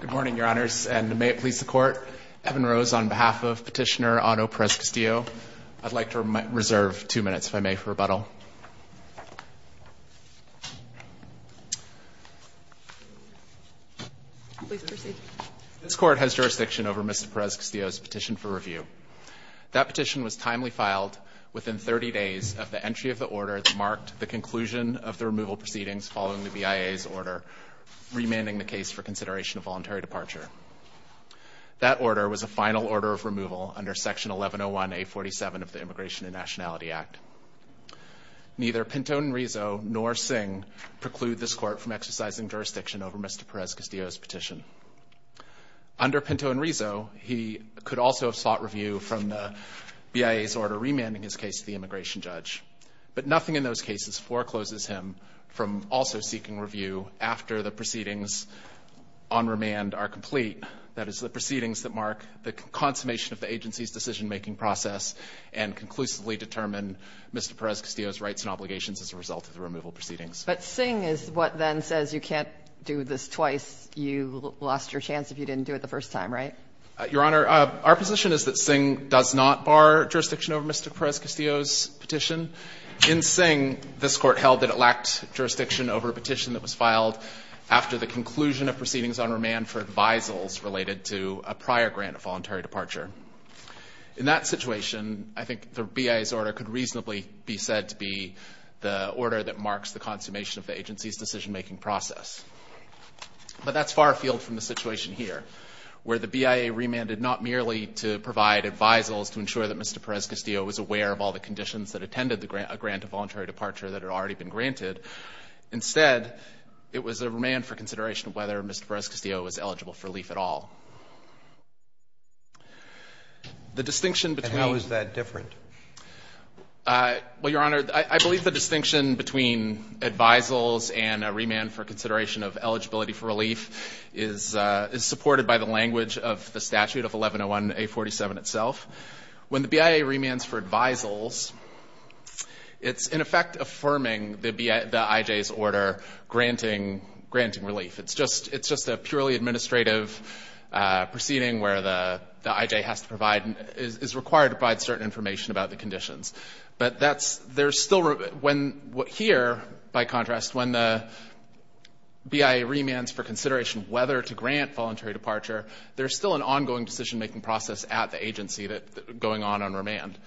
Good morning, Your Honors, and may it please the Court, Evan Rose, on behalf of Petitioner Otto Perez Castillo, I'd like to reserve two minutes, if I may, for rebuttal. Please proceed. This Court has jurisdiction over Mr. Perez Castillo's petition for review. That petition was timely filed within 30 days of the entry of the order that marked the conclusion of the removal proceedings following the BIA's order remanding the case for consideration of voluntary departure. That order was a final order of removal under Section 1101A47 of the Immigration and Nationality Act. Neither Pinto and Rizzo nor Singh preclude this Court from exercising jurisdiction over Mr. Perez Castillo's petition. Under Pinto and Rizzo, he could also have sought review from the BIA's order remanding his case to the immigration judge, but nothing in those cases forecloses him from also seeking review after the proceedings on remand are complete. That is, the proceedings that mark the consummation of the agency's decision-making process and conclusively determine Mr. Perez Castillo's rights and obligations as a result of the removal proceedings. But Singh is what then says you can't do this twice. You lost your chance if you didn't do it the first time, right? In Singh, this Court held that it lacked jurisdiction over a petition that was filed after the conclusion of proceedings on remand for advisals related to a prior grant of voluntary departure. In that situation, I think the BIA's order could reasonably be said to be the order that marks the consummation of the agency's decision-making process. But that's far afield from the situation here, where the BIA remanded not merely to provide advisals to ensure that Mr. Perez Castillo was aware of all the conditions that attended a grant of voluntary departure that had already been granted. Instead, it was a remand for consideration of whether Mr. Perez Castillo was eligible for relief at all. The distinction between the two. And how is that different? Well, Your Honor, I believe the distinction between advisals and a remand for consideration of eligibility for relief is supported by the language of the statute of 1101A47 itself. When the BIA remands for advisals, it's in effect affirming the IJ's order granting relief. It's just a purely administrative proceeding where the IJ has to provide, is required to provide certain information about the conditions. But that's, there's still, when, here, by contrast, when the BIA remands for consideration of whether to grant voluntary departure, there's still an ongoing decision-making process at the agency that, going on on remand.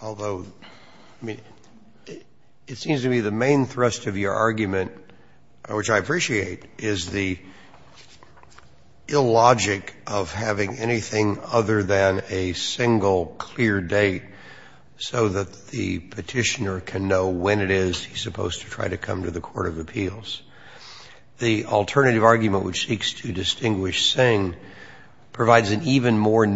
Although, I mean, it seems to me the main thrust of your argument, which I appreciate, is the illogic of having anything other than a single clear date so that the Petitioner can know when it is he's supposed to try to come to the court of appeals. The alternative argument, which seeks to distinguish Singh, provides an even more I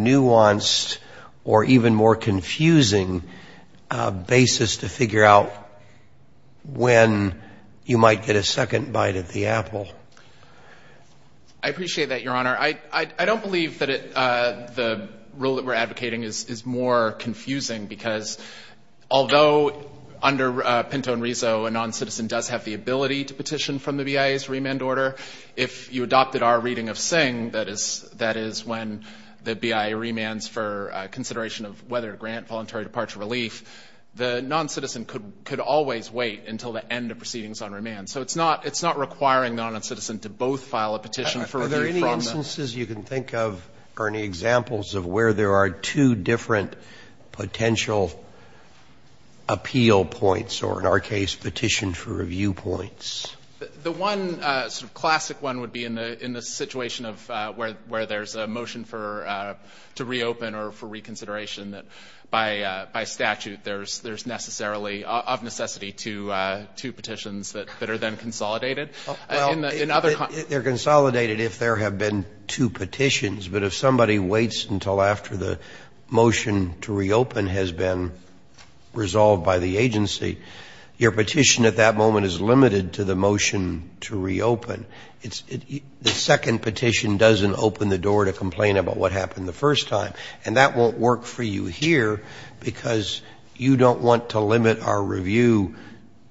appreciate that, Your Honor. I don't believe that the rule that we're advocating is more confusing because, although under Pinto and Riso, a non-citizen does have the ability to petition from the BIA's remand order, if you adopted our reading of Singh, that is when the BIA remands for consideration of whether to grant voluntary departure relief, the non-citizen could always wait until the end of proceedings on remand. So it's not requiring the non-citizen to both file a petition for review from them. Are there any instances you can think of or any examples of where there are two different potential appeal points or, in our case, petition for review points? The one sort of classic one would be in the situation of where there's a motion to reopen or for reconsideration that, by statute, there's necessarily, of necessity, two petitions that are then consolidated. In other contexts. They're consolidated if there have been two petitions, but if somebody waits until after the motion to reopen has been resolved by the agency, your petition at that moment is limited to the motion to reopen. The second petition doesn't open the door to complain about what happened the first time, and that won't work for you here because you don't want to limit our review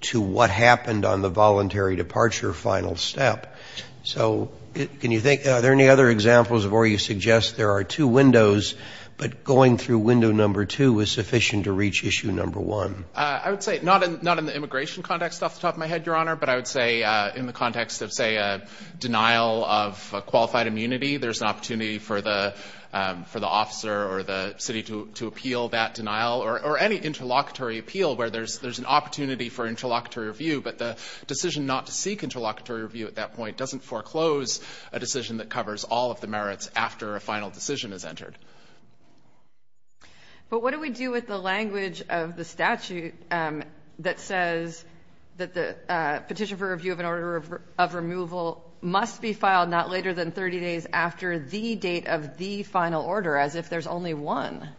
to what happened on the voluntary departure final step. So can you think, are there any other examples of where you suggest there are two windows, but going through window number two is sufficient to reach issue number one? I would say not in the immigration context off the top of my head, Your Honor, but I would say in the context of, say, a denial of qualified immunity, there's an opportunity for the officer or the city to appeal that denial or any interlocutory appeal where there's an opportunity for interlocutory review, but the decision not to seek interlocutory review at that point doesn't foreclose a decision that covers all of the merits after a final decision is entered. But what do we do with the language of the statute that says that the petition for the final order, as if there's only one?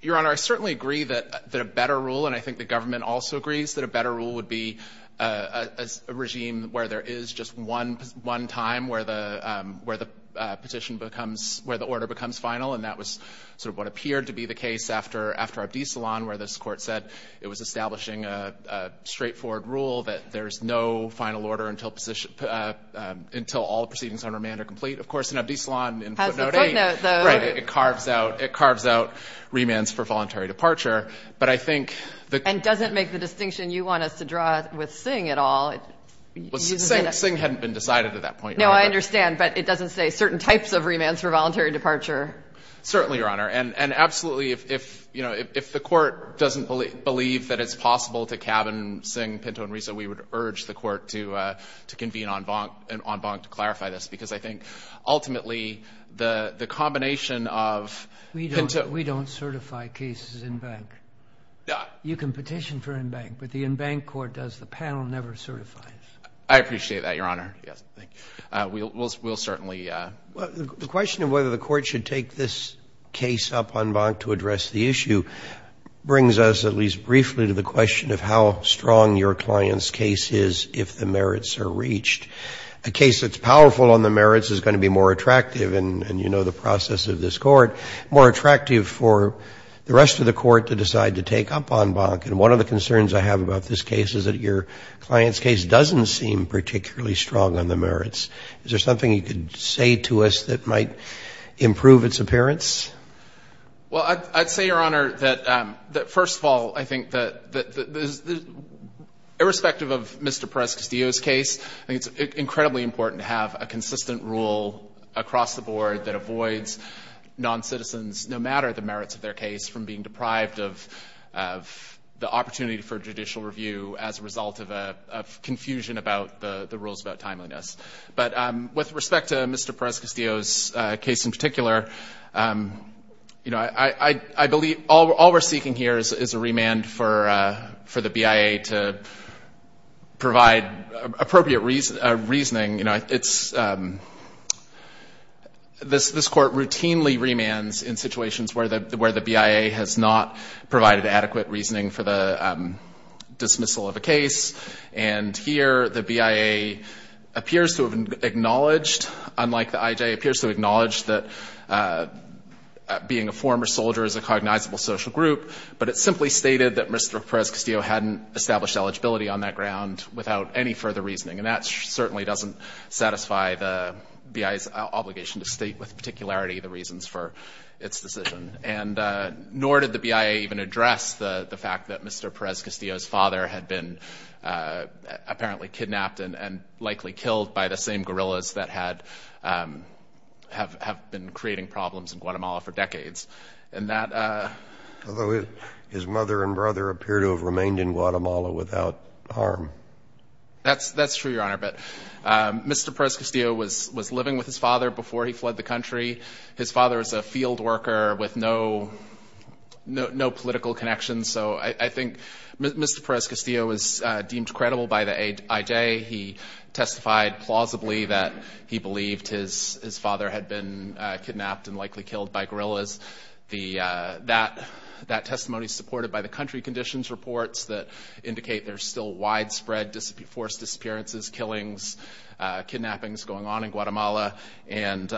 Your Honor, I certainly agree that a better rule, and I think the government also agrees that a better rule would be a regime where there is just one time where the petition becomes, where the order becomes final, and that was sort of what appeared to be the case after Abdisalan, where this Court said it was establishing a straightforward rule that there's no final order until all the proceedings on remand are complete. Of course, in Abdisalan in footnote 8, right, it carves out remands for voluntary departure, but I think the — And doesn't make the distinction you want us to draw with Singh at all. Well, Singh hadn't been decided at that point. No, I understand, but it doesn't say certain types of remands for voluntary departure. Certainly, Your Honor. And absolutely, if, you know, if the Court doesn't believe that it's possible to cabin Singh, Pinto, and Riso, we would urge the Court to convene en banc to clarify this, because I think ultimately the combination of Pinto — We don't certify cases en banc. You can petition for en banc, but the en banc Court does. The panel never certifies. I appreciate that, Your Honor. Yes, thank you. We'll certainly — Well, the question of whether the Court should take this case up en banc to address the issue brings us at least briefly to the question of how strong your client's case is if the merits are reached. A case that's powerful on the merits is going to be more attractive, and you know the process of this Court, more attractive for the rest of the Court to decide to take up en banc. And one of the concerns I have about this case is that your client's case doesn't seem particularly strong on the merits. Is there something you could say to us that might improve its appearance? Well, I'd say, Your Honor, that first of all, I think that irrespective of Mr. Perez-Castillo's case, I think it's incredibly important to have a consistent rule across the board that avoids noncitizens, no matter the merits of their case, from being deprived of the opportunity for judicial review as a result of confusion about the rules about timeliness. But with respect to Mr. Perez-Castillo's case in particular, I believe all we're seeking here is a remand for the BIA to provide appropriate reasoning. This Court routinely remands in situations where the BIA has not provided adequate reasoning for the dismissal of a case. And here the BIA appears to have acknowledged, unlike the IJA, appears to acknowledge that being a former soldier is a cognizable social group, but it simply stated that Mr. Perez-Castillo hadn't established eligibility on that ground without any further reasoning. And that certainly doesn't satisfy the BIA's obligation to state with particularity the reasons for its decision. And nor did the BIA even address the fact that Mr. Perez-Castillo's father had been apparently kidnapped and likely killed by the same guerrillas that had, have been creating problems in Guatemala for decades. And that... Although his mother and brother appear to have remained in Guatemala without harm. That's true, Your Honor. But Mr. Perez-Castillo was living with his father before he fled the country. His father was a field worker with no political connections. So I think Mr. Perez-Castillo was deemed credible by the IJA. He testified plausibly that he believed his father had been kidnapped and likely killed by guerrillas. That testimony is supported by the country conditions reports that indicate there's still widespread forced disappearances, killings, kidnappings going on in Guatemala. And...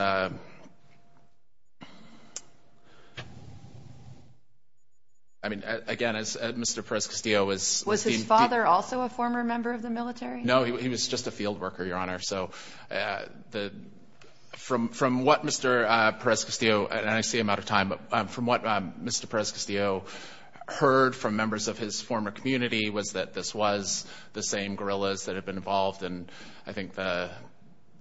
I mean, again, as Mr. Perez-Castillo was... Was his father also a former member of the military? No, he was just a field worker, Your Honor. So from what Mr. Perez-Castillo, and I see I'm out of time, but from what Mr. Perez-Castillo heard from members of his former community was that this was the same guerrillas that had been involved. And I think the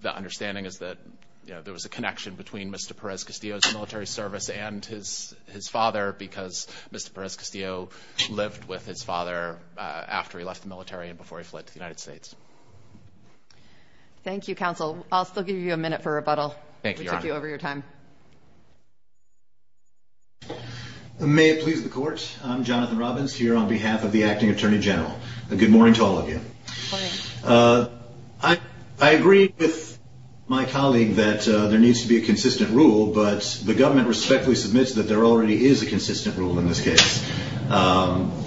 understanding is that there was a connection between Mr. Perez-Castillo's military service and his father because Mr. Perez-Castillo lived with his father after he left the military and before he fled to the United States. Thank you, Counsel. I'll still give you a minute for rebuttal. Thank you, Your Honor. We took you over your time. May it please the Court. I'm Jonathan Robbins here on behalf of the Acting Attorney General. Good morning to all of you. Good morning. I agree with my colleague that there needs to be a consistent rule, but the government respectfully submits that there already is a consistent rule in this case.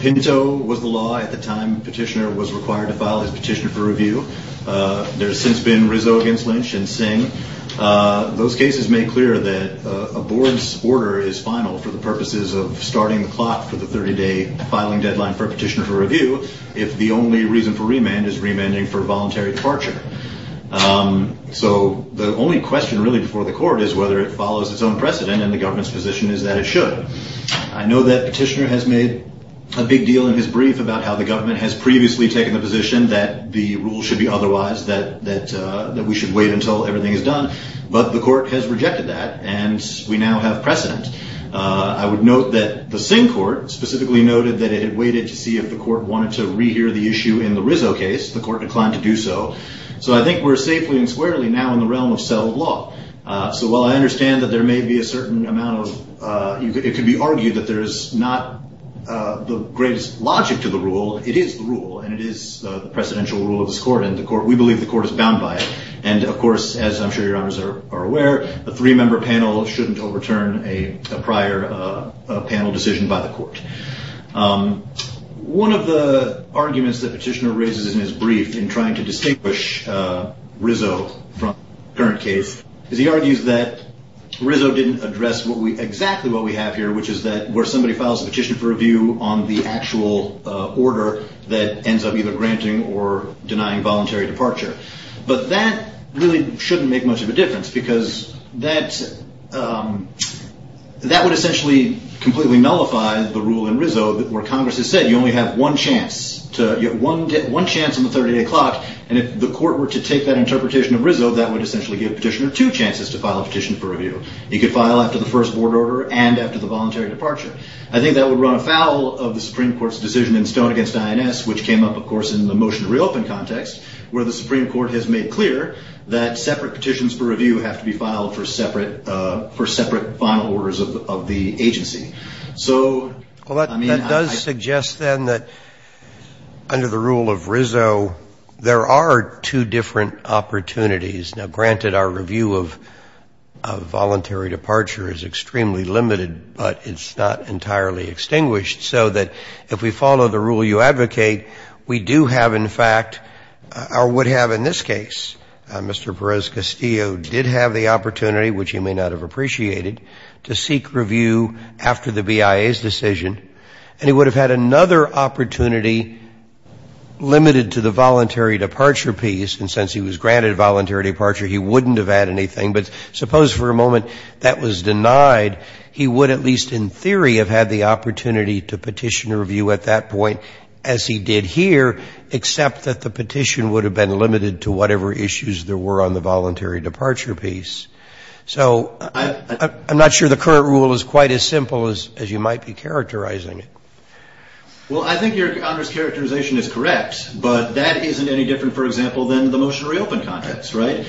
Pinto was the law at the time Petitioner was required to file his petition for review. There's since been Rizzo against Lynch and Singh. Those cases make clear that a board's order is final for the purposes of starting the clock for the 30-day filing deadline for a petition for review if the only reason for the petition is that the government is demanding for voluntary departure. So the only question really before the Court is whether it follows its own precedent and the government's position is that it should. I know that Petitioner has made a big deal in his brief about how the government has previously taken the position that the rule should be otherwise, that we should wait until everything is done, but the Court has rejected that and we now have precedent. I would note that the Singh Court specifically noted that it had waited to see if the Court wanted to rehear the issue in the Rizzo case. The Court declined to do so. So I think we're safely and squarely now in the realm of settled law. So while I understand that there may be a certain amount of, it could be argued that there is not the greatest logic to the rule, it is the rule and it is the precedential rule of this Court and we believe the Court is bound by it. And of course, as I'm sure your honors are aware, a three-member panel shouldn't overturn a prior panel decision by the Court. One of the arguments that Petitioner raises in his brief in trying to distinguish Rizzo from the current case is he argues that Rizzo didn't address exactly what we have here, which is that where somebody files a petition for review on the actual order that ends up either granting or denying voluntary departure. But that really shouldn't make much of a difference because that would essentially completely nullify the rule in Rizzo where Congress has said you only have one chance on the 30-day clock and if the Court were to take that interpretation of Rizzo, that would essentially give Petitioner two chances to file a petition for review. He could file after the first board order and after the voluntary departure. I think that would run afoul of the Supreme Court's decision in Stone against INS, which came up, of course, in the motion to reopen context, where the Supreme Court has made clear that separate petitions for review have to be filed for separate final orders of the agency. So, I mean, I think that's what Petitioner is arguing. Roberts. Well, that does suggest, then, that under the rule of Rizzo, there are two different opportunities. Now, granted, our review of voluntary departure is extremely limited, but it's not entirely extinguished, so that if we follow the rule you advocate, we do have, in fact, or would have in this case. Mr. Perez-Castillo did have the opportunity, which he may not have appreciated, to seek review after the BIA's decision, and he would have had another opportunity limited to the voluntary departure piece, and since he was granted voluntary departure, he wouldn't have had anything. But suppose for a moment that was denied. He would at least in theory have had the opportunity to petition a review at that point, as he did here, except that the petition would have been limited to whatever issues there were on the voluntary departure piece. So I'm not sure the current rule is quite as simple as you might be characterizing it. Well, I think Your Honor's characterization is correct, but that isn't any different, for example, than the motion to reopen context, right?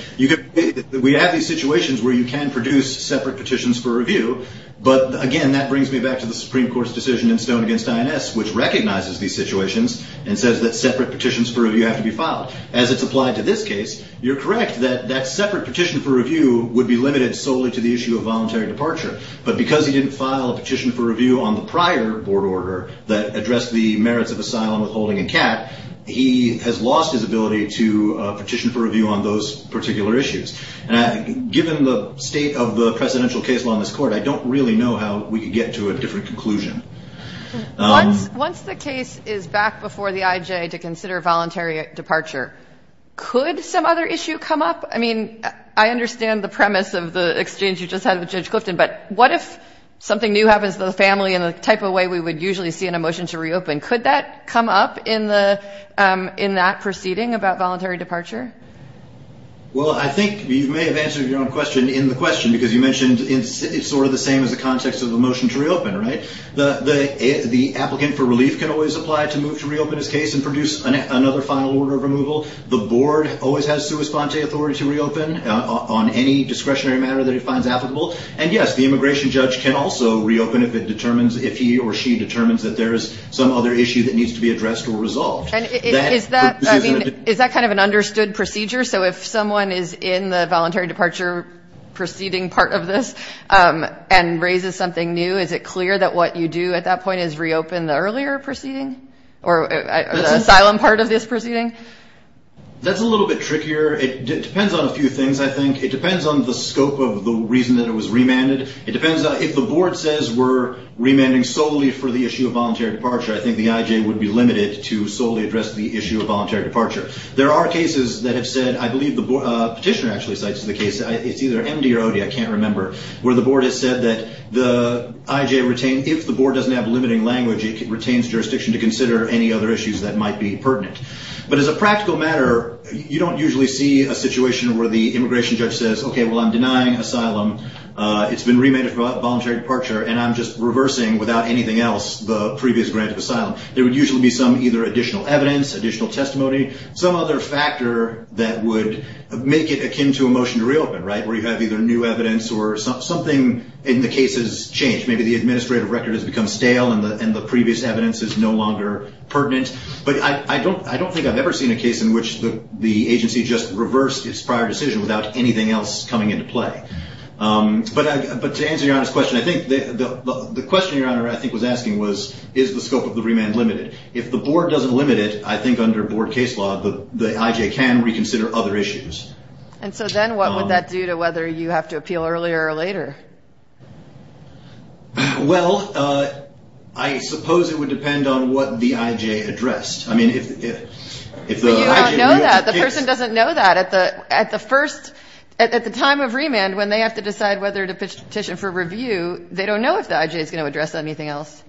We have these situations where you can produce separate petitions for review, but again, that brings me back to the Supreme Court's decision in Stone v. INS, which recognizes these situations and says that separate petitions for review have to be filed. As it's applied to this case, you're correct that that separate petition for review would be limited solely to the issue of voluntary departure, but because he didn't file a petition for review on the prior board order that addressed the merits of asylum, withholding, and CAT, he has lost his ability to petition for review on those particular issues. Given the state of the presidential case law in this court, I don't really know how we could get to a different conclusion. Once the case is back before the IJ to consider voluntary departure, could some other issue come up? I mean, I understand the premise of the exchange you just had with Judge Clifton, but what if something new happens to the family in the type of way we would usually see in a motion to reopen? Could that come up in that proceeding about voluntary departure? Well, I think you may have answered your own question in the question, because you mentioned it's sort of the same as the context of the motion to reopen, right? The applicant for relief can always apply to move to reopen his case and produce another final order of removal. The board always has sua sponte authority to reopen on any discretionary matter that it finds applicable. And, yes, the immigration judge can also reopen if he or she determines that there is some other issue that needs to be addressed or resolved. Is that kind of an understood procedure? So if someone is in the voluntary departure proceeding part of this and raises something new, is it clear that what you do at that point is reopen the earlier proceeding or the asylum part of this proceeding? That's a little bit trickier. It depends on a few things, I think. It depends on the scope of the reason that it was remanded. It depends on if the board says we're remanding solely for the issue of voluntary departure. I think the IJ would be limited to solely address the issue of voluntary departure. There are cases that have said, I believe the petitioner actually cites the case, it's either MD or OD, I can't remember, where the board has said that the IJ, if the board doesn't have limiting language, it retains jurisdiction to consider any other issues that might be pertinent. But as a practical matter, you don't usually see a situation where the immigration judge says, okay, well, I'm denying asylum, it's been remanded for voluntary departure, and I'm just reversing without anything else the previous grant of asylum. There would usually be some either additional evidence, additional testimony, some other factor that would make it akin to a motion to reopen, right? Where you have either new evidence or something in the case has changed. Maybe the administrative record has become stale and the previous evidence is no longer pertinent. But I don't think I've ever seen a case in which the agency just reversed its prior decision without anything else coming into play. But to answer your honest question, I think the question your Honor, I think, was asking was, is the scope of the remand limited? If the board doesn't limit it, I think under board case law, the IJ can reconsider other issues. And so then what would that do to whether you have to appeal earlier or later? Well, I suppose it would depend on what the IJ addressed. I mean, if the IJ knew. But you don't know that. The person doesn't know that. At the first, at the time of remand, when they have to decide whether to address anything else.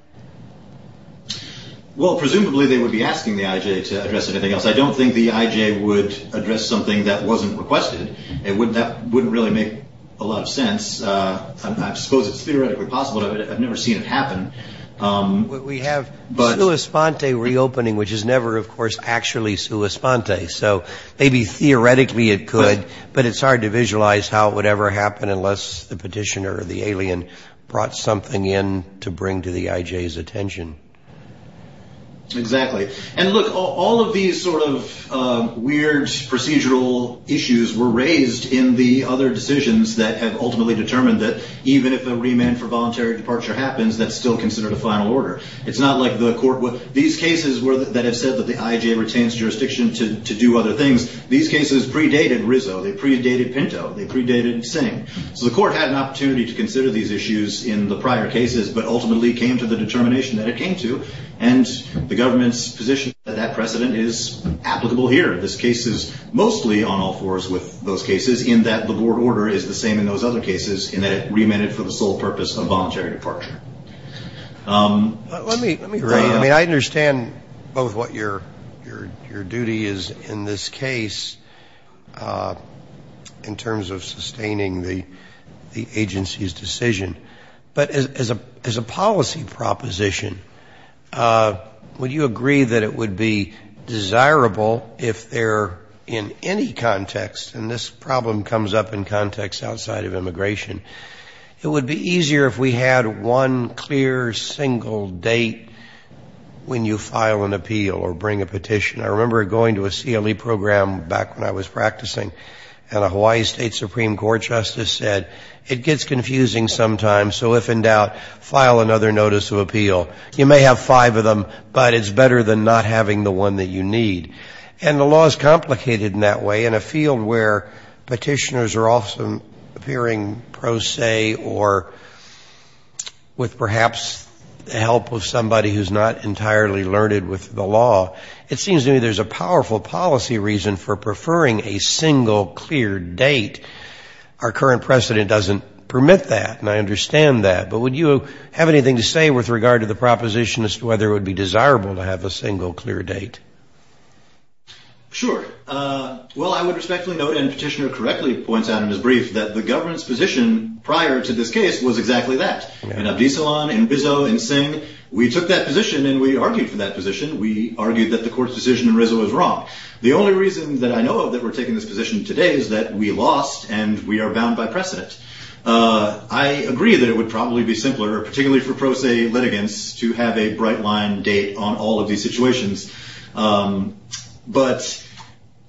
Well, presumably they would be asking the IJ to address anything else. I don't think the IJ would address something that wasn't requested. That wouldn't really make a lot of sense. I suppose it's theoretically possible. I've never seen it happen. We have sua sponte reopening, which is never, of course, actually sua sponte. So maybe theoretically it could. But it's hard to visualize how it would ever happen unless the petitioner or the court had an opportunity to bring to the IJ's attention. Exactly. And look, all of these sort of weird procedural issues were raised in the other decisions that have ultimately determined that even if a remand for voluntary departure happens, that's still considered a final order. It's not like the court would. These cases that have said that the IJ retains jurisdiction to do other things, these cases predated Rizzo. They predated Pinto. They predated Singh. So the court had an opportunity to consider these issues in the prior cases, but ultimately came to the determination that it came to, and the government's position that that precedent is applicable here. This case is mostly on all fours with those cases, in that the board order is the same in those other cases, in that it remanded for the sole purpose of voluntary departure. I understand both what your duty is in this case in terms of sustaining the agency's decision, but as a policy proposition, would you agree that it would be desirable if there in any context, and this problem comes up in context outside of immigration, it would be easier if we had one clear, single date when you file an appeal or bring a petition. I remember going to a CLE program back when I was practicing, and a Hawaii State Supreme Court justice said, it gets confusing sometimes, so if in doubt, file another notice of appeal. You may have five of them, but it's better than not having the one that you need. And the law is complicated in that way. In a field where Petitioners are often appearing pro se or with perhaps the help of somebody who's not entirely learned with the law, it seems to me there's a powerful policy reason for preferring a single, clear date. Our current precedent doesn't permit that, and I understand that. But would you have anything to say with regard to the proposition as to whether it would be desirable to have a single, clear date? Sure. Well, I would respectfully note, and Petitioner correctly points out in his brief, that the government's position prior to this case was exactly that. In Abdi Salon, in Bizot, in Singh, we took that position and we argued for that position. We argued that the court's decision in Rizzo was wrong. The only reason that I know of that we're taking this position today is that we lost and we are bound by precedent. I agree that it would probably be simpler, particularly for pro se litigants, to have a bright line date on all of these situations. But,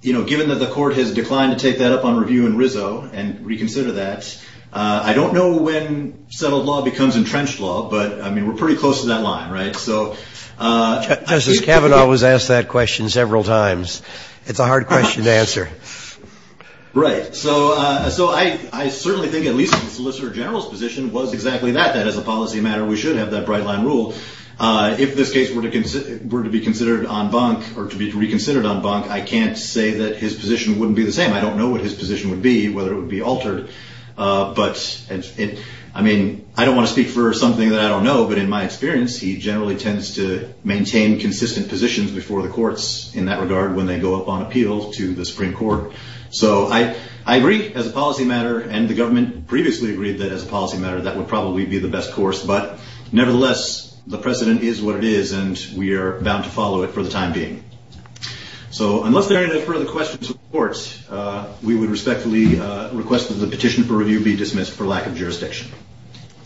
you know, given that the court has declined to take that up on review in Rizzo and reconsider that, I don't know when settled law becomes entrenched law, but, I mean, we're pretty close to that line, right? Justice Kavanaugh was asked that question several times. It's a hard question to answer. Right. So I certainly think at least the Solicitor General's position was exactly that, that as a policy matter we should have that bright line rule. If this case were to be considered en banc or to be reconsidered en banc, I can't say that his position wouldn't be the same. I don't know what his position would be, whether it would be altered. But, I mean, I don't want to speak for something that I don't know, but in my experience he generally tends to maintain consistent positions before the courts in that regard when they go up on appeal to the Supreme Court. So I agree as a policy matter, and the government previously agreed that as a policy matter that would probably be the best course. But, nevertheless, the precedent is what it is, and we are bound to follow it for the time being. So unless there are any further questions from the court, we would respectfully request that the petition for review be dismissed for lack of jurisdiction.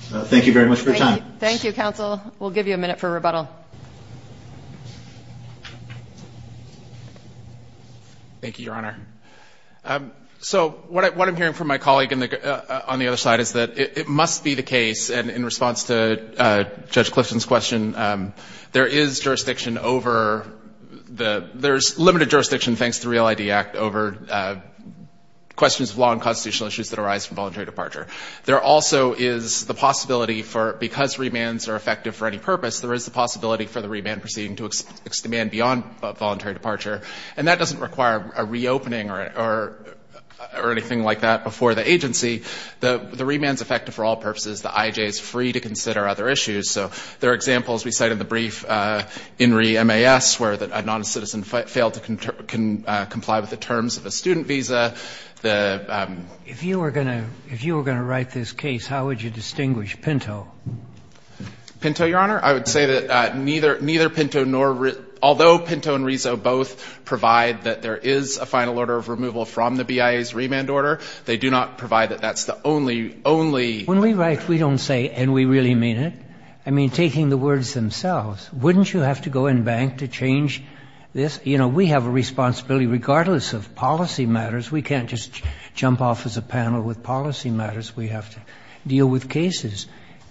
Thank you very much for your time. Thank you, counsel. We'll give you a minute for rebuttal. Thank you, Your Honor. So what I'm hearing from my colleague on the other side is that it must be the case, and in response to Judge Clifton's question, there is jurisdiction over the ‑‑ there's limited jurisdiction, thanks to the REAL ID Act, over questions of law and constitutional issues that arise from voluntary departure. There also is the possibility for, because remands are effective for any purpose, there is the possibility for the remand proceeding to extend beyond voluntary departure. And that doesn't require a reopening or anything like that before the agency. The remand is effective for all purposes. The IJ is free to consider other issues. So there are examples we cite in the brief, INRI MAS, where a noncitizen failed to comply with the terms of a student visa. If you were going to write this case, how would you distinguish Pinto? Pinto, Your Honor? I would say that neither Pinto nor ‑‑ although Pinto and Riso both provide that there is a final order of removal from the BIA's remand order, they do not provide that that's the only, only ‑‑ When we write, we don't say, and we really mean it. I mean, taking the words themselves, wouldn't you have to go in bank to change this? You know, we have a responsibility, regardless of policy matters, we can't just jump off as a panel with policy matters. We have to deal with cases.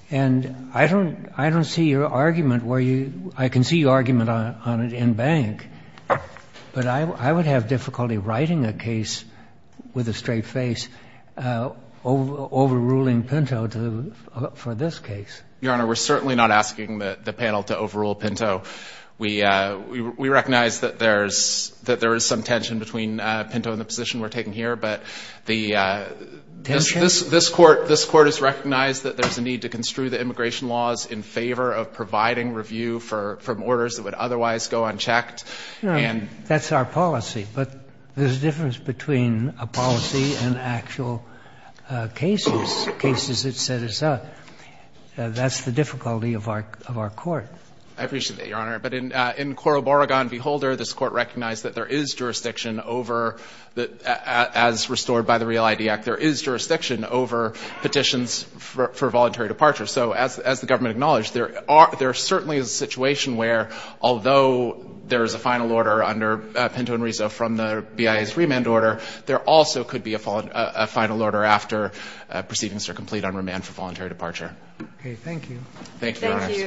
And I don't see your argument where you ‑‑ I can see your argument on it in bank, but I would have difficulty writing a case with a straight face overruling Pinto for this case. Your Honor, we're certainly not asking the panel to overrule Pinto. We recognize that there's ‑‑ that there is some tension between Pinto and the position we're taking here, but the ‑‑ Tension? This Court has recognized that there's a need to construe the immigration laws in favor of providing review from orders that would otherwise go unchecked. No. That's our policy. But there's a difference between a policy and actual cases, cases that set us up. That's the difficulty of our court. I appreciate that, Your Honor. But in Coroboragon v. Holder, this Court recognized that there is jurisdiction over, as restored by the REAL-ID Act, there is jurisdiction over petitions for voluntary departure. So as the government acknowledged, there are ‑‑ there certainly is a situation where, although there is a final order under Pinto and Riso from the BIA's remand order, there also could be a final order after proceedings are complete on remand for voluntary departure. Okay. Thank you. Thank you, Your Honor. Thank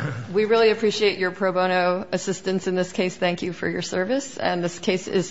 you. We really appreciate your pro bono assistance in this case. Thank you for your service. And this case is submitted.